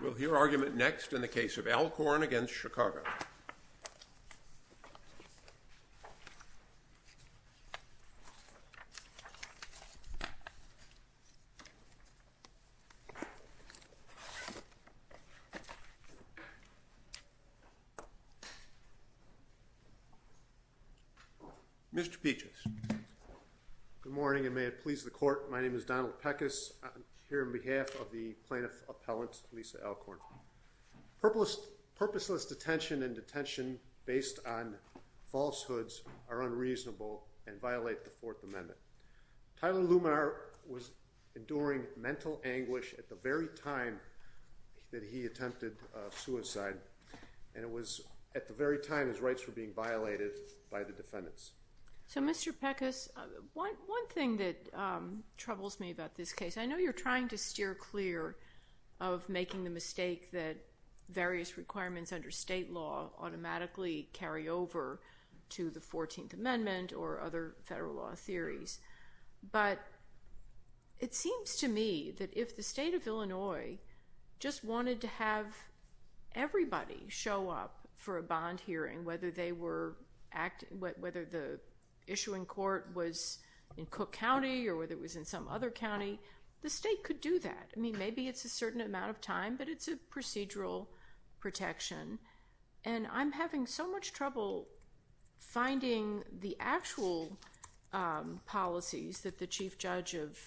We will hear argument next in the case of Alcorn v. Chicago. Mr. Peaches. Good morning and may it please the court, my name is Donald Peckis, I'm here on behalf of the plaintiff appellant Lisa Alcorn. Purposeless detention and detention based on falsehoods are unreasonable and violate the Fourth Amendment. Tyler Luminar was enduring mental anguish at the very time that he attempted suicide and it was at the very time his rights were being violated by the defendants. So Mr. Peckis, one thing that troubles me about this case, I know you are trying to steer clear of making the mistake that various requirements under state law automatically carry over to the Fourteenth Amendment or other federal law theories, but it seems to me that if the state of Illinois just wanted to have everybody show up for a bond hearing, and whether the issuing court was in Cook County or whether it was in some other county, the state could do that. I mean, maybe it's a certain amount of time, but it's a procedural protection. And I'm having so much trouble finding the actual policies that the chief judge of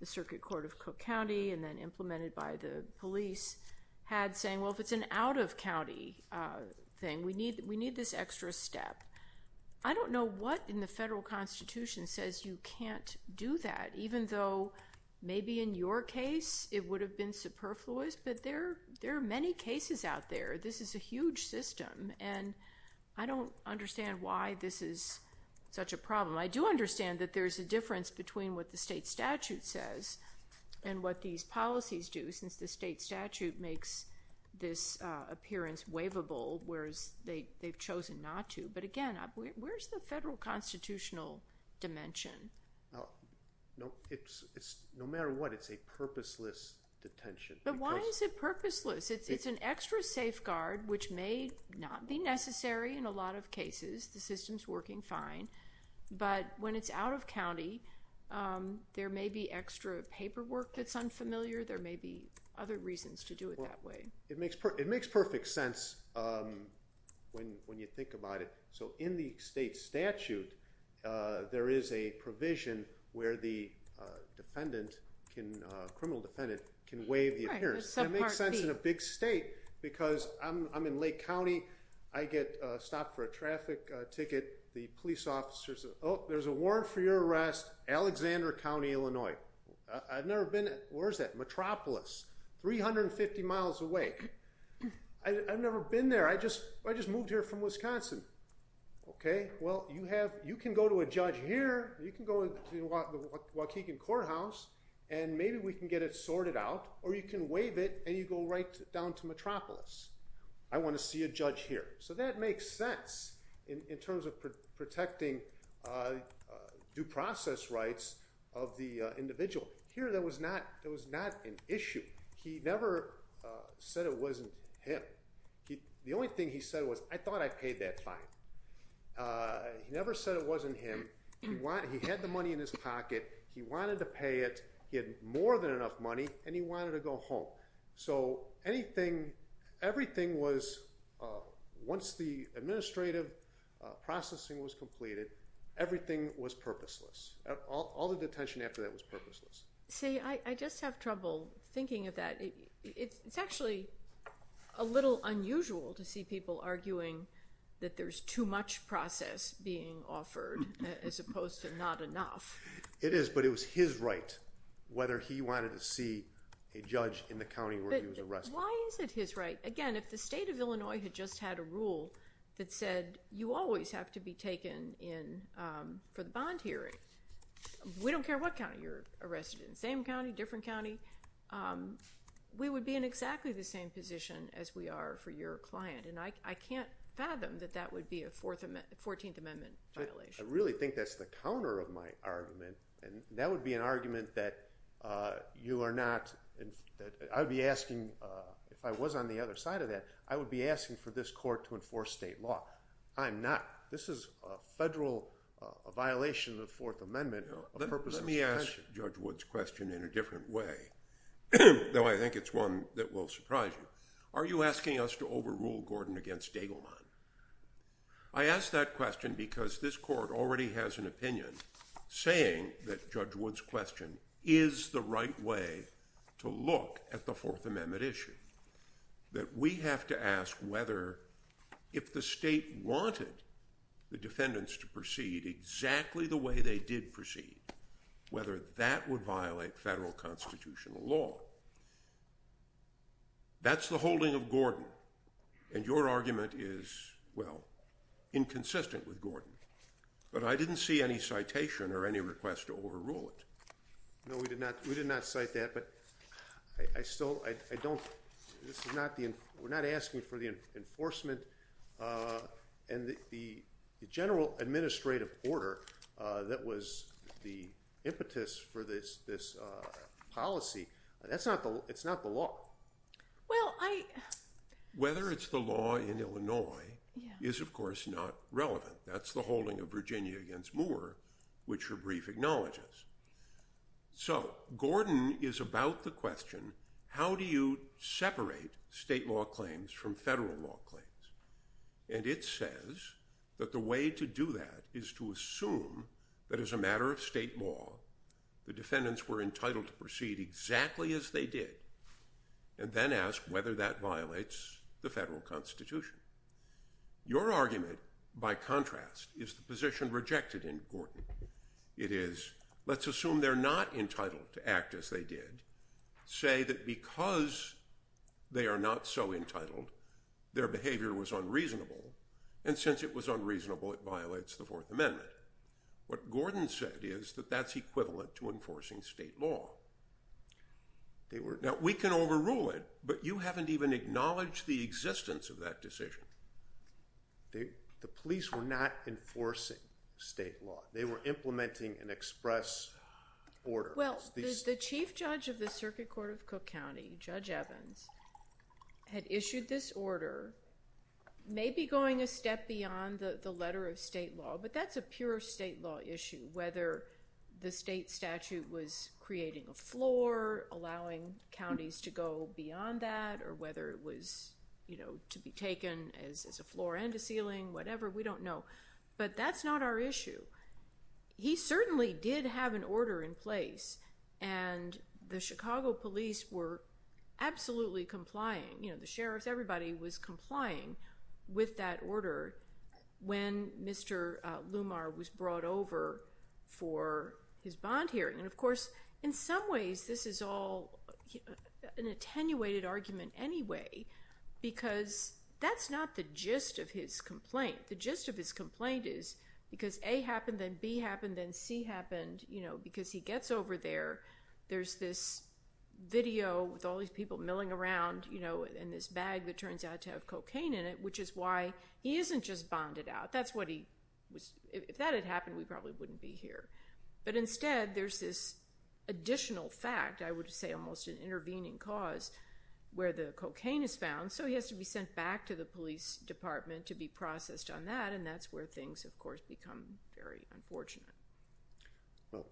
the Circuit Court of Cook County and then implemented by the police had saying, well, if it's an out-of-county thing, we need this extra step. I don't know what in the federal Constitution says you can't do that, even though maybe in your case it would have been superfluous, but there are many cases out there. This is a huge system and I don't understand why this is such a problem. I do understand that there's a difference between what the state statute says and what these policies do, since the state statute makes this appearance waivable, whereas they've chosen not to. But again, where's the federal constitutional dimension? No matter what, it's a purposeless detention. But why is it purposeless? It's an extra safeguard, which may not be necessary in a lot of cases. The system's working fine. But when it's out-of-county, there may be extra paperwork that's unfamiliar. There may be other reasons to do it that way. It makes perfect sense when you think about it. So in the state statute, there is a provision where the criminal defendant can waive the appearance. It makes sense in a big state, because I'm in Lake County, I get stopped for a traffic ticket. The police officer says, oh, there's a warrant for your arrest, Alexander County, Illinois. I've never been, where is that, Metropolis, 350 miles away. I've never been there, I just moved here from Wisconsin. Okay, well, you can go to a judge here, you can go to the Waukegan Courthouse, and maybe we can get it sorted out, or you can waive it and you go right down to Metropolis. I want to see a judge here. So that makes sense in terms of protecting due process rights of the individual. Here that was not an issue. He never said it wasn't him. The only thing he said was, I thought I paid that fine. He never said it wasn't him. He had the money in his pocket, he wanted to pay it, he had more than enough money, and he wanted to go home. So anything, everything was, once the administrative processing was completed, everything was purposeless. All the detention after that was purposeless. See, I just have trouble thinking of that. It's actually a little unusual to see people arguing that there's too much process being offered as opposed to not enough. It is, but it was his right whether he wanted to see a judge in the county where he was arrested. Why is it his right? Again, if the state of Illinois had just had a rule that said you always have to be taken in for the bond hearing, we don't care what county you're arrested in, same county, different county, we would be in exactly the same position as we are for your client, and I can't fathom that that would be a 14th Amendment violation. I really think that's the counter of my argument, and that would be an argument that you are not, I would be asking, if I was on the other side of that, I would be asking for this court to enforce state law. I'm not. This is a federal, a violation of the Fourth Amendment, a purposeless detention. Let me ask Judge Wood's question in a different way, though I think it's one that will surprise you. Are you asking us to overrule Gordon against Dagelman? I ask that question because this court already has an opinion saying that Judge Wood's question is the right way to look at the Fourth Amendment issue, that we have to ask whether if the state wanted the defendants to proceed exactly the way they did proceed, whether that would violate federal constitutional law. That's the holding of Gordon, and your argument is, well, inconsistent with Gordon, but I didn't see any citation or any request to overrule it. No, we did not cite that, but I still, I don't, this is not the, we're not asking for the enforcement and the general administrative order that was the impetus for this policy. That's not the, it's not the law. Well, I. Whether it's the law in Illinois is, of course, not relevant. That's the holding of Virginia against Moore, which her brief acknowledges. So Gordon is about the question, how do you separate state law claims from federal law claims? And it says that the way to do that is to assume that as a matter of state law, the defendants acted exactly as they did, and then ask whether that violates the federal constitution. Your argument, by contrast, is the position rejected in Gordon. It is, let's assume they're not entitled to act as they did, say that because they are not so entitled, their behavior was unreasonable, and since it was unreasonable, it violates the Fourth Amendment. What Gordon said is that that's equivalent to enforcing state law. They were, now, we can overrule it, but you haven't even acknowledged the existence of that decision. The police were not enforcing state law. They were implementing an express order. Well, the chief judge of the Circuit Court of Cook County, Judge Evans, had issued this clear state law issue, whether the state statute was creating a floor, allowing counties to go beyond that, or whether it was to be taken as a floor and a ceiling, whatever, we don't know. But that's not our issue. He certainly did have an order in place, and the Chicago police were absolutely complying. The sheriffs, everybody was complying with that order when Mr. Lumar was brought over for his bond hearing. And of course, in some ways, this is all an attenuated argument anyway, because that's not the gist of his complaint. The gist of his complaint is, because A happened, then B happened, then C happened, because he gets over there, there's this video with all these people milling around in this bag that turns out to have cocaine in it, which is why he isn't just bonded out. That's what he was... If that had happened, we probably wouldn't be here. But instead, there's this additional fact, I would say almost an intervening cause, where the cocaine is found, so he has to be sent back to the police department to be processed on that, and that's where things, of course, become very unfortunate. Well,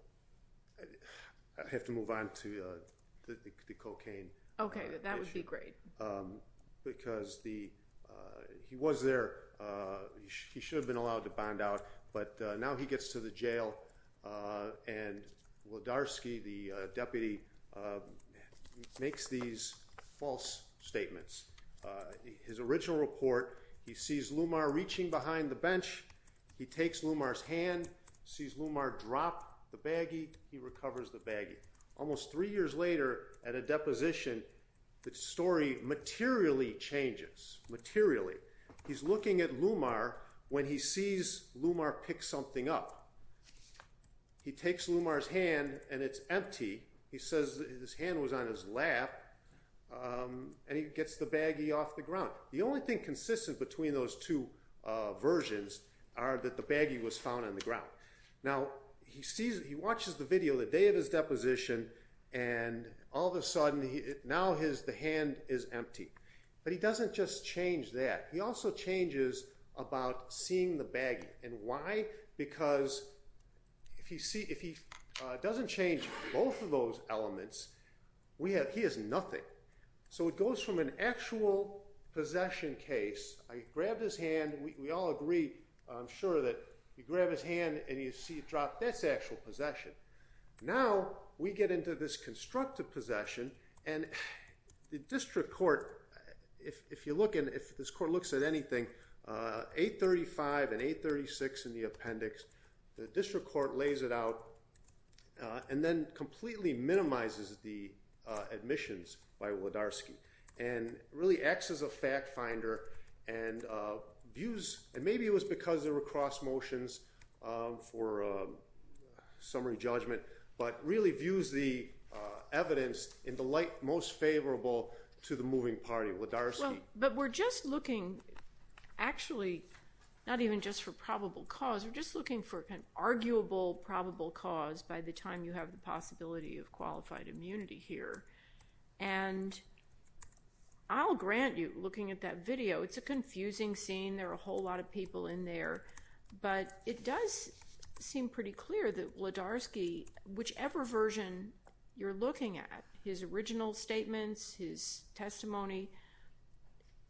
I have to move on to the cocaine issue. Okay, that would be great. Because he was there, he should have been allowed to bond out, but now he gets to the jail and Wlodarski, the deputy, makes these false statements. His original report, he sees Lumar reaching behind the bench, he takes Lumar's hand, sees Lumar drop the baggie, he recovers the baggie. Almost three years later, at a deposition, the story materially changes, materially. He's looking at Lumar when he sees Lumar pick something up. He takes Lumar's hand and it's empty, he says his hand was on his lap, and he gets the baggie off the ground. The only thing consistent between those two versions are that the baggie was found on Now, he watches the video the day of his deposition, and all of a sudden, now the hand is empty. But he doesn't just change that, he also changes about seeing the baggie, and why? Because if he doesn't change both of those elements, he has nothing. So it goes from an actual possession case, I grabbed his hand, we all agree, I'm sure that you grab his hand and you see it drop, that's actual possession. Now, we get into this constructive possession, and the district court, if you look and if this court looks at anything, 835 and 836 in the appendix, the district court lays it out and then completely minimizes the admissions by Wlodarski, and really acts as a fact finder and views, and maybe it was because there were cross motions for summary judgment, but really views the evidence in the light most favorable to the moving party, Wlodarski. But we're just looking, actually, not even just for probable cause, we're just looking for an arguable probable cause by the time you have the possibility of qualified immunity here. And I'll grant you, looking at that video, it's a confusing scene, there are a whole lot of people in there, but it does seem pretty clear that Wlodarski, whichever version you're looking at, his original statements, his testimony,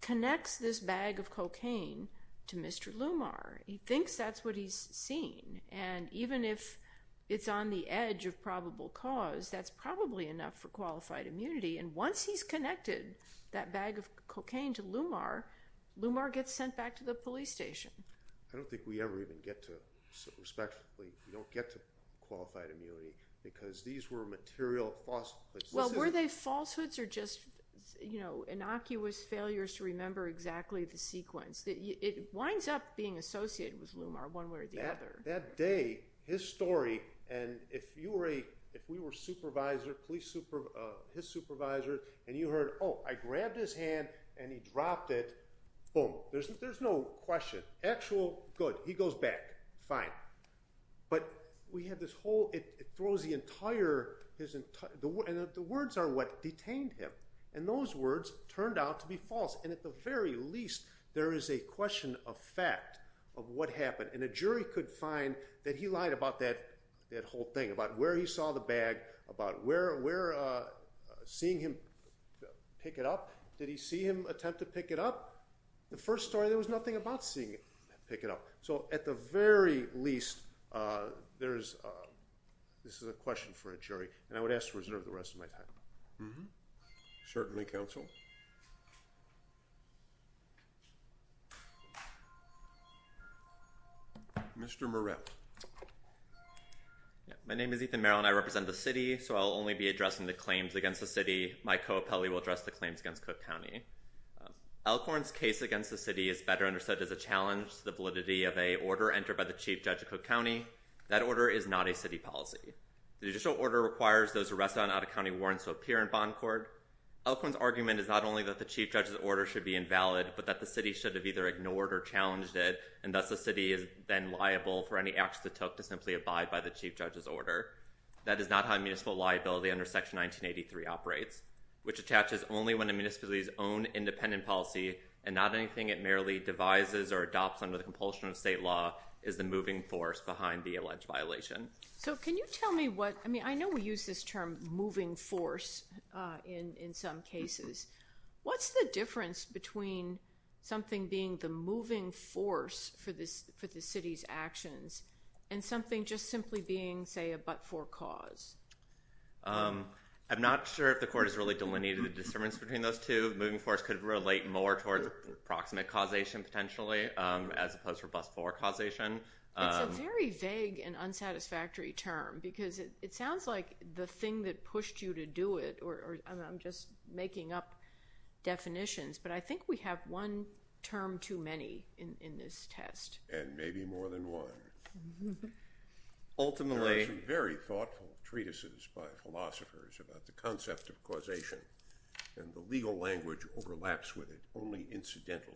connects this bag of cocaine to Mr. Lumar. He thinks that's what he's seen, and even if it's on the edge of probable cause, that's probably enough for qualified immunity, and once he's connected that bag of cocaine to Lumar, Lumar gets sent back to the police station. I don't think we ever even get to, respectfully, we don't get to qualified immunity, because these were material falsehoods. Well, were they falsehoods or just innocuous failures to remember exactly the sequence? It winds up being associated with Lumar, one way or the other. That day, his story, and if we were his supervisor, and you heard, oh, I grabbed his hand and he dropped it, boom. There's no question. Actual, good, he goes back, fine. But we have this whole, it throws the entire, and the words are what detained him, and those words turned out to be false, and at the very least, there is a question of fact of what he could find that he lied about that whole thing, about where he saw the bag, about where, seeing him pick it up, did he see him attempt to pick it up? The first story, there was nothing about seeing him pick it up. So at the very least, there's, this is a question for a jury, and I would ask to reserve the rest of my time. Mm-hmm. Certainly, counsel. Mr. Moretz. My name is Ethan Merrill, and I represent the city, so I'll only be addressing the claims against the city. My co-appellee will address the claims against Cook County. Elkhorn's case against the city is better understood as a challenge to the validity of a order entered by the chief judge of Cook County. That order is not a city policy. The judicial order requires those arrested on out-of-county warrants to appear in bond court. Elkhorn's argument is not only that the chief judge's order should be invalid, but that the city should have either ignored or challenged it, and thus the city is then liable for any action it took to simply abide by the chief judge's order. That is not how municipal liability under Section 1983 operates, which attaches only when a municipality's own independent policy, and not anything it merely devises or adopts under the compulsion of state law, is the moving force behind the alleged violation. So can you tell me what, I mean, I know we use this term moving force in some cases. What's the difference between something being the moving force for the city's actions and something just simply being, say, a but-for cause? I'm not sure if the court has really delineated the disturbance between those two. Moving force could relate more towards approximate causation, potentially, as opposed to but-for causation. It's a very vague and unsatisfactory term, because it sounds like the thing that pushed you to do it, or I'm just making up definitions, but I think we have one term too many in this test. And maybe more than one. Ultimately... There are some very thoughtful treatises by philosophers about the concept of causation, and the legal language overlaps with it only incidentally.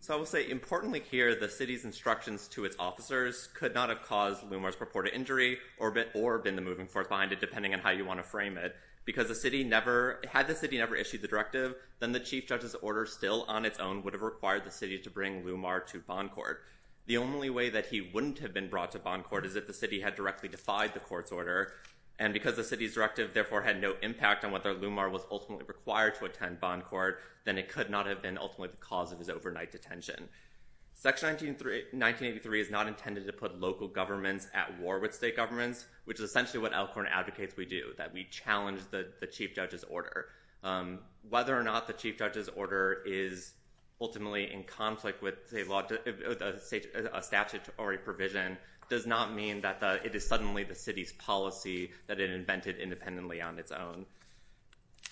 So I will say, importantly here, the city's instructions to its officers could not have caused Lumar's purported injury, or been the moving force behind it, depending on how you want to frame it. Because the city never, had the city never issued the directive, then the chief judge's order still on its own would have required the city to bring Lumar to bond court. The only way that he wouldn't have been brought to bond court is if the city had directly defied the court's order, and because the city's directive therefore had no impact on whether Lumar was ultimately required to attend bond court, then it could not have been ultimately the cause of his overnight detention. Section 1983 is not intended to put local governments at war with state governments, which is essentially what Elkhorn advocates we do, that we challenge the chief judge's order. Whether or not the chief judge's order is ultimately in conflict with a statutory provision does not mean that it is suddenly the city's policy that it invented independently on its own.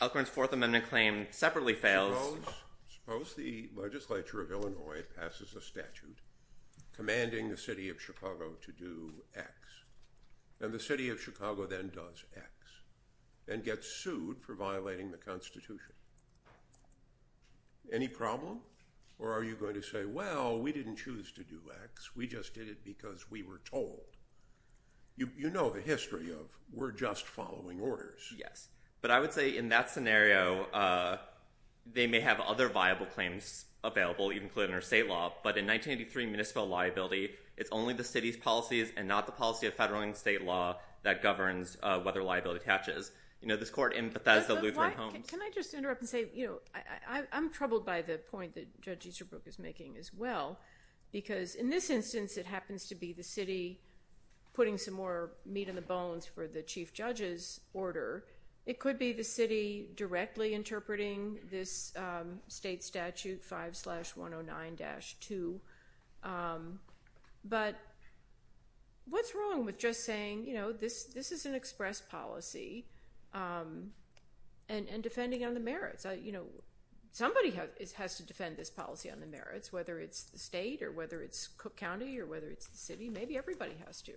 Elkhorn's Fourth Amendment claim separately fails. Suppose, suppose the legislature of Illinois passes a statute commanding the city of Chicago to do X, and the city of Chicago then does X, and gets sued for violating the Constitution. Any problem? Or are you going to say, well, we didn't choose to do X, we just did it because we were told? You know the history of, we're just following orders. Yes. But I would say in that scenario, they may have other viable claims available, even including their state law, but in 1983 municipal liability, it's only the city's policies and not the policy of federal and state law that governs whether liability attaches. You know, this court in Bethesda, Lutheran Homes. Can I just interrupt and say, you know, I'm troubled by the point that Judge Easterbrook is making as well, because in this instance it happens to be the city putting some more weight in the bones for the chief judge's order. It could be the city directly interpreting this state statute 5-109-2, but what's wrong with just saying, you know, this is an express policy, and defending on the merits? You know, somebody has to defend this policy on the merits, whether it's the state or whether it's Cook County or whether it's the city, maybe everybody has to.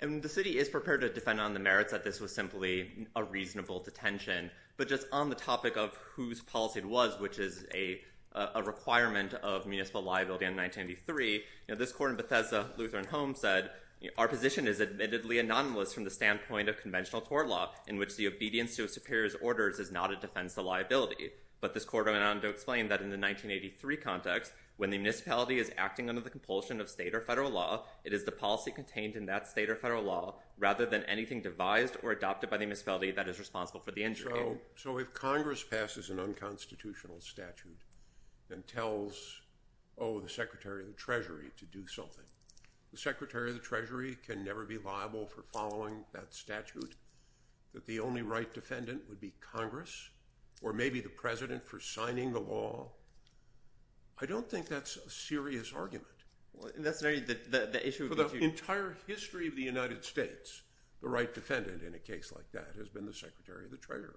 And the city is prepared to defend on the merits that this was simply a reasonable detention, but just on the topic of whose policy it was, which is a requirement of municipal liability in 1983, you know, this court in Bethesda, Lutheran Homes said, you know, our position is admittedly anonymous from the standpoint of conventional tort law, in which the obedience to a superior's orders is not a defense to liability. But this court went on to explain that in the 1983 context, when the municipality is detained in that state or federal law, rather than anything devised or adopted by the municipality that is responsible for the injury. So if Congress passes an unconstitutional statute, and tells, oh, the Secretary of the Treasury to do something, the Secretary of the Treasury can never be liable for following that statute, that the only right defendant would be Congress, or maybe the president for signing the law? I don't think that's a serious argument. Well, in that scenario, the issue would be to... For the entire history of the United States, the right defendant in a case like that has been the Secretary of the Treasury.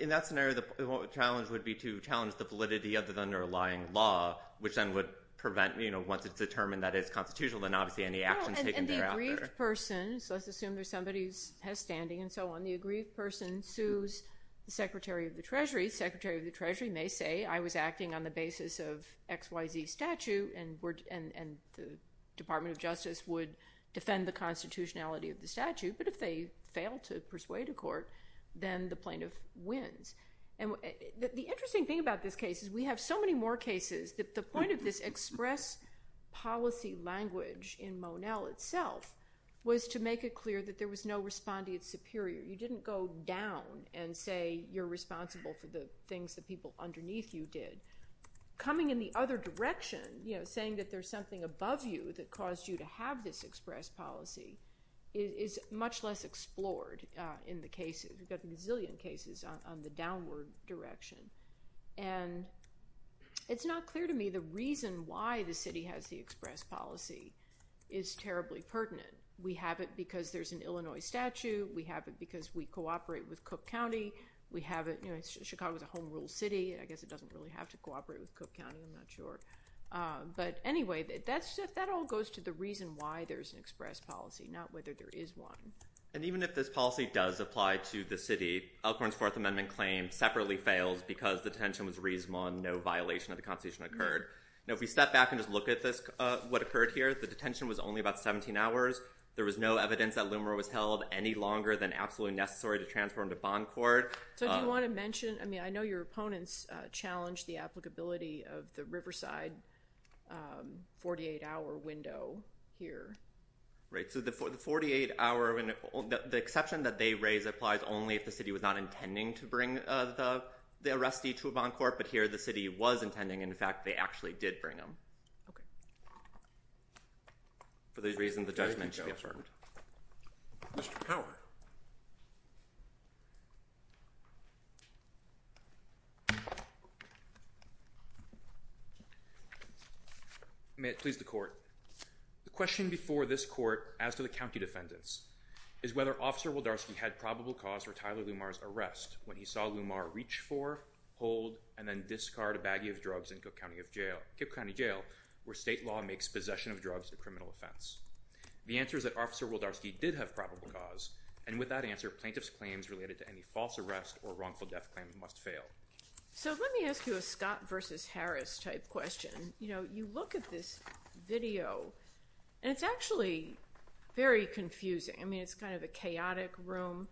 In that scenario, the challenge would be to challenge the validity of the underlying law, which then would prevent, you know, once it's determined that it's constitutional, then obviously any actions taken thereafter... Well, and the aggrieved person, so let's assume there's somebody who has standing and so on, the aggrieved person sues the Secretary of the Treasury, the Secretary of the Treasury may say, I was acting on the basis of XYZ statute, and the Department of Justice would defend the constitutionality of the statute, but if they fail to persuade a court, then the plaintiff wins. And the interesting thing about this case is we have so many more cases that the point of this express policy language in Monell itself was to make it clear that there was no respondeat superior, you didn't go down and say you're responsible for the things the people underneath you did. Coming in the other direction, you know, saying that there's something above you that caused you to have this express policy is much less explored in the cases, we've got a gazillion cases on the downward direction, and it's not clear to me the reason why the city has the express policy is terribly pertinent. We have it because there's an Illinois statute, we have it because we cooperate with Cook County. I guess it doesn't really have to cooperate with Cook County, I'm not sure. But anyway, that all goes to the reason why there's an express policy, not whether there is one. And even if this policy does apply to the city, Elkhorn's Fourth Amendment claim separately fails because the detention was reasonable and no violation of the constitution occurred. Now if we step back and just look at what occurred here, the detention was only about 17 hours, there was no evidence that Loomer was held any longer than absolutely necessary to transfer him to bond court. So do you want to mention, I mean, I know your opponents challenged the applicability of the Riverside 48-hour window here. Right, so the 48-hour window, the exception that they raise applies only if the city was not intending to bring the arrestee to a bond court, but here the city was intending, and in fact, they actually did bring him. For these reasons, the judgment should be affirmed. Mr. Powell. May it please the court. The question before this court as to the county defendants is whether Officer Waldarski had probable cause for Tyler Loomer's arrest when he saw Loomer reach for, hold, and then discard a baggie of drugs in Cook County Jail, where state law makes possession of drugs a criminal offense. The answer is that Officer Waldarski did have probable cause, and with that answer, plaintiff's claims related to any false arrest or wrongful death claim must fail. So let me ask you a Scott versus Harris type question. You know, you look at this video, and it's actually very confusing. I mean, it's kind of a chaotic room,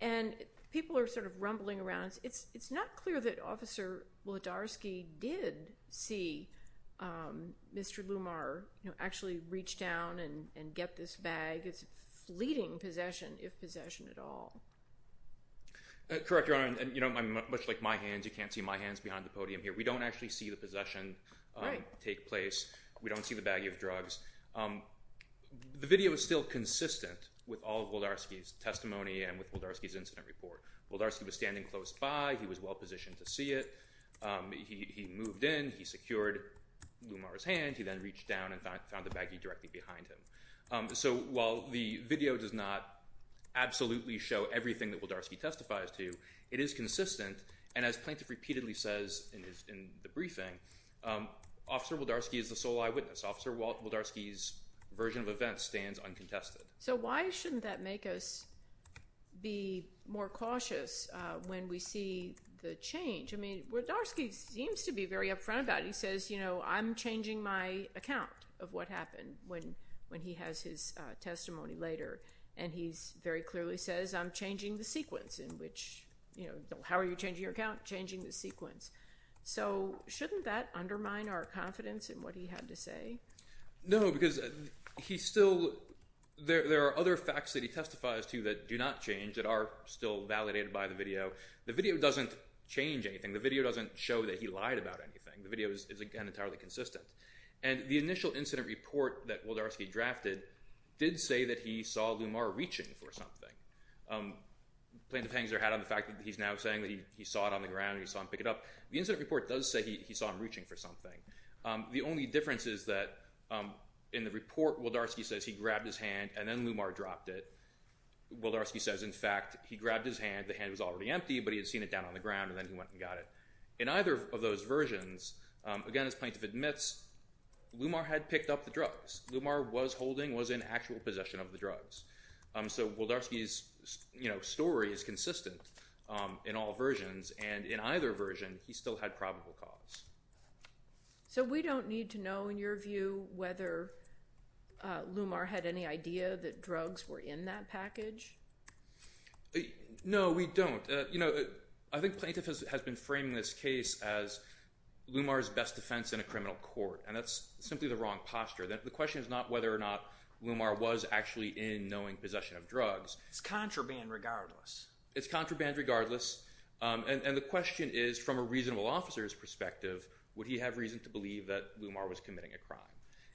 and people are sort of rumbling around. It's not clear that Officer Waldarski did see Mr. Loomer, you know, actually reach down and get this bag. It's fleeting possession, if possession at all. Correct, Your Honor. You know, much like my hands, you can't see my hands behind the podium here. We don't actually see the possession take place. We don't see the baggie of drugs. The video is still consistent with all of Waldarski's testimony and with Waldarski's incident report. Waldarski was standing close by. He was well positioned to see it. He moved in. He secured Loomer's hand. He then reached down and found the baggie directly behind him. So while the video does not absolutely show everything that Waldarski testifies to, it is consistent, and as plaintiff repeatedly says in the briefing, Officer Waldarski is the sole eyewitness. Officer Waldarski's version of events stands uncontested. So why shouldn't that make us be more cautious when we see the change? I mean, Waldarski seems to be very upfront about it. He says, you know, I'm changing my account of what happened when he has his testimony later. And he very clearly says, I'm changing the sequence in which, you know, how are you changing your account? Changing the sequence. So shouldn't that undermine our confidence in what he had to say? No, because he still, there are other facts that he testifies to that do not change that are still validated by the video. The video doesn't change anything. The video doesn't show that he lied about anything. The video is again entirely consistent. And the initial incident report that Waldarski drafted did say that he saw Loomer reaching for something. Plaintiff hangs their hat on the fact that he's now saying that he saw it on the ground, he saw him pick it up. The incident report does say he saw him reaching for something. The only difference is that in the report, Waldarski says he grabbed his hand and then Loomer dropped it. Waldarski says, in fact, he grabbed his hand, the hand was already empty, but he had seen it down on the ground and then he went and got it. In either of those versions, again, as plaintiff admits, Loomer had picked up the drugs. Loomer was holding, was in actual possession of the drugs. So Waldarski's, you know, story is consistent in all versions. And in either version, he still had probable cause. So we don't need to know, in your view, whether Loomer had any idea that drugs were in that package? No, we don't. You know, I think plaintiff has been framing this case as Loomer's best defense in a criminal court. And that's simply the wrong posture. The question is not whether or not Loomer was actually in knowing possession of drugs. It's contraband regardless. It's contraband regardless. And the question is, from a reasonable officer's perspective, would he have reason to believe that Loomer was committing a crime?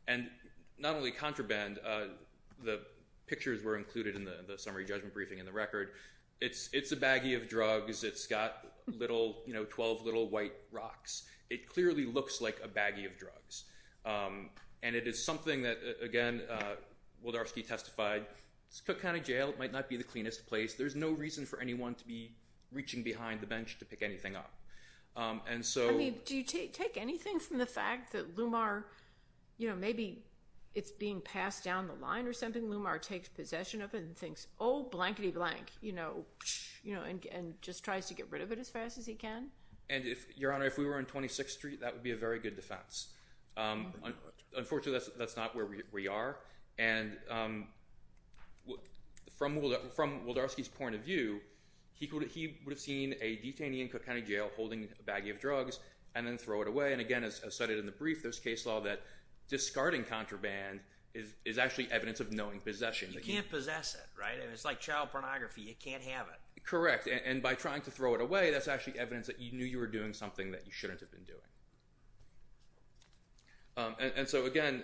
And not only contraband, the pictures were included in the summary judgment briefing in the record. It's a baggie of drugs. It's got little, you know, 12 little white rocks. It clearly looks like a baggie of drugs. And it is something that, again, Waldarski testified, Cook County Jail might not be the cleanest place. There's no reason for anyone to be reaching behind the bench to pick anything up. And so... I mean, do you take anything from the fact that Loomer, you know, maybe it's being passed down the line or something. Loomer takes possession of it and thinks, oh, blankety blank, you know, and just tries to get rid of it as fast as he can? And if, Your Honor, if we were on 26th Street, that would be a very good defense. Unfortunately, that's not where we are. And from Waldarski's point of view, he would have seen a detainee in Cook County Jail holding a baggie of drugs and then throw it away. And again, as cited in the brief, there's case law that discarding contraband is actually evidence of knowing possession. You can't possess it, right? It's like child pornography. You can't have it. Correct. And by trying to throw it away, that's actually evidence that you knew you were doing something that you shouldn't have been doing. And so, again,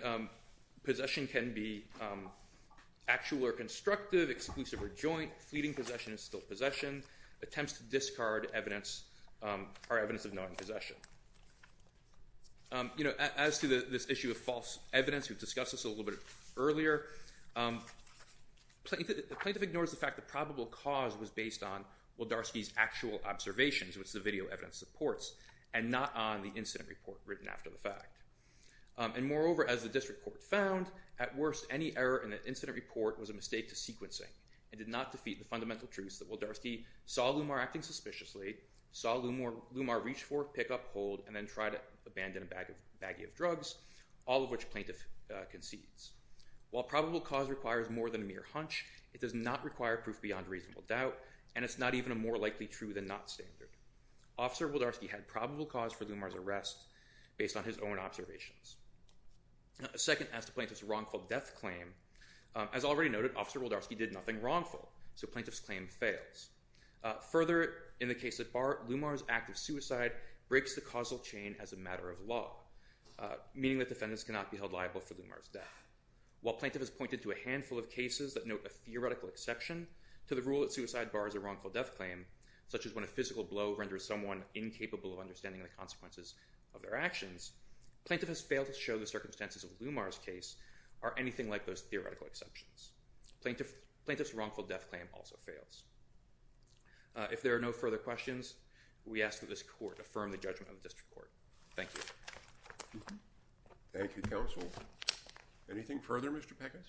possession can be actual or constructive, exclusive or joint, fleeting possession is still possession, attempts to discard evidence are evidence of knowing possession. You know, as to this issue of false evidence, we've discussed this a little bit earlier. The plaintiff ignores the fact that probable cause was based on Waldarski's actual observations, which the video evidence supports, and not on the incident report written after the fact. And moreover, as the district court found, at worst, any error in the incident report was a mistake to sequencing and did not defeat the fundamental truths that Waldarski saw Lumar acting suspiciously, saw Lumar reach for, pick up, hold, and then try to abandon a baggie of drugs, all of which plaintiff concedes. While probable cause requires more than a mere hunch, it does not require proof beyond a reasonable doubt, and it's not even a more likely true than not standard. Officer Waldarski had probable cause for Lumar's arrest based on his own observations. Second, as to plaintiff's wrongful death claim, as already noted, Officer Waldarski did nothing wrongful, so plaintiff's claim fails. Further, in the case at Bart, Lumar's act of suicide breaks the causal chain as a matter of law, meaning that defendants cannot be held liable for Lumar's death. While plaintiff has pointed to a handful of cases that note a theoretical exception to the rule that suicide bars a wrongful death claim, such as when a physical blow renders someone incapable of understanding the consequences of their actions, plaintiff has failed to show the circumstances of Lumar's case are anything like those theoretical exceptions. Plaintiff's wrongful death claim also fails. If there are no further questions, we ask that this court affirm the judgment of the district court. Thank you. Thank you, counsel. Anything further, Mr. Peckins?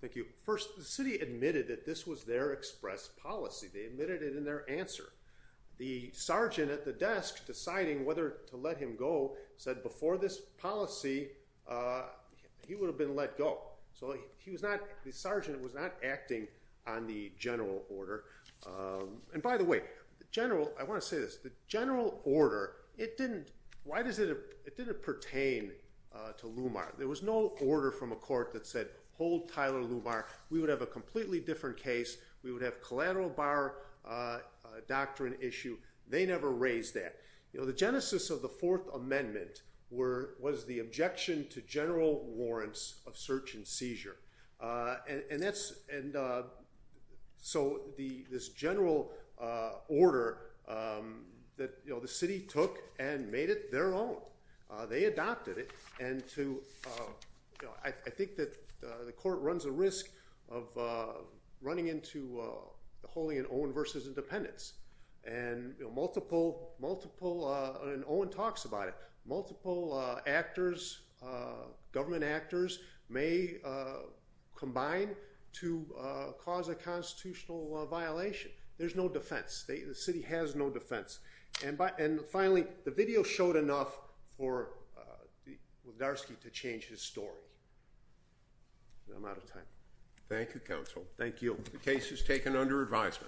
Thank you. First, the city admitted that this was their express policy. They admitted it in their answer. The sergeant at the desk deciding whether to let him go said before this policy he would have been let go. The sergeant was not acting on the general order. By the way, I want to say this. The general order, it didn't pertain to Lumar. There was no order from a court that said hold Tyler Lumar. We would have a completely different case. We would have collateral bar doctrine issue. They never raised that. The genesis of the fourth amendment was the objection to general warrants of search and seizure. This general order, the city took and made it their own. They adopted it. I think that the court runs a risk of running into the holy and own versus independence. Multiple, and Owen talks about it, multiple actors, government actors may combine to cause a constitutional violation. There's no defense. The city has no defense. Finally, the video showed enough for Wigdarski to change his story. I'm out of time. Thank you, counsel. Thank you. The case is taken under advisement.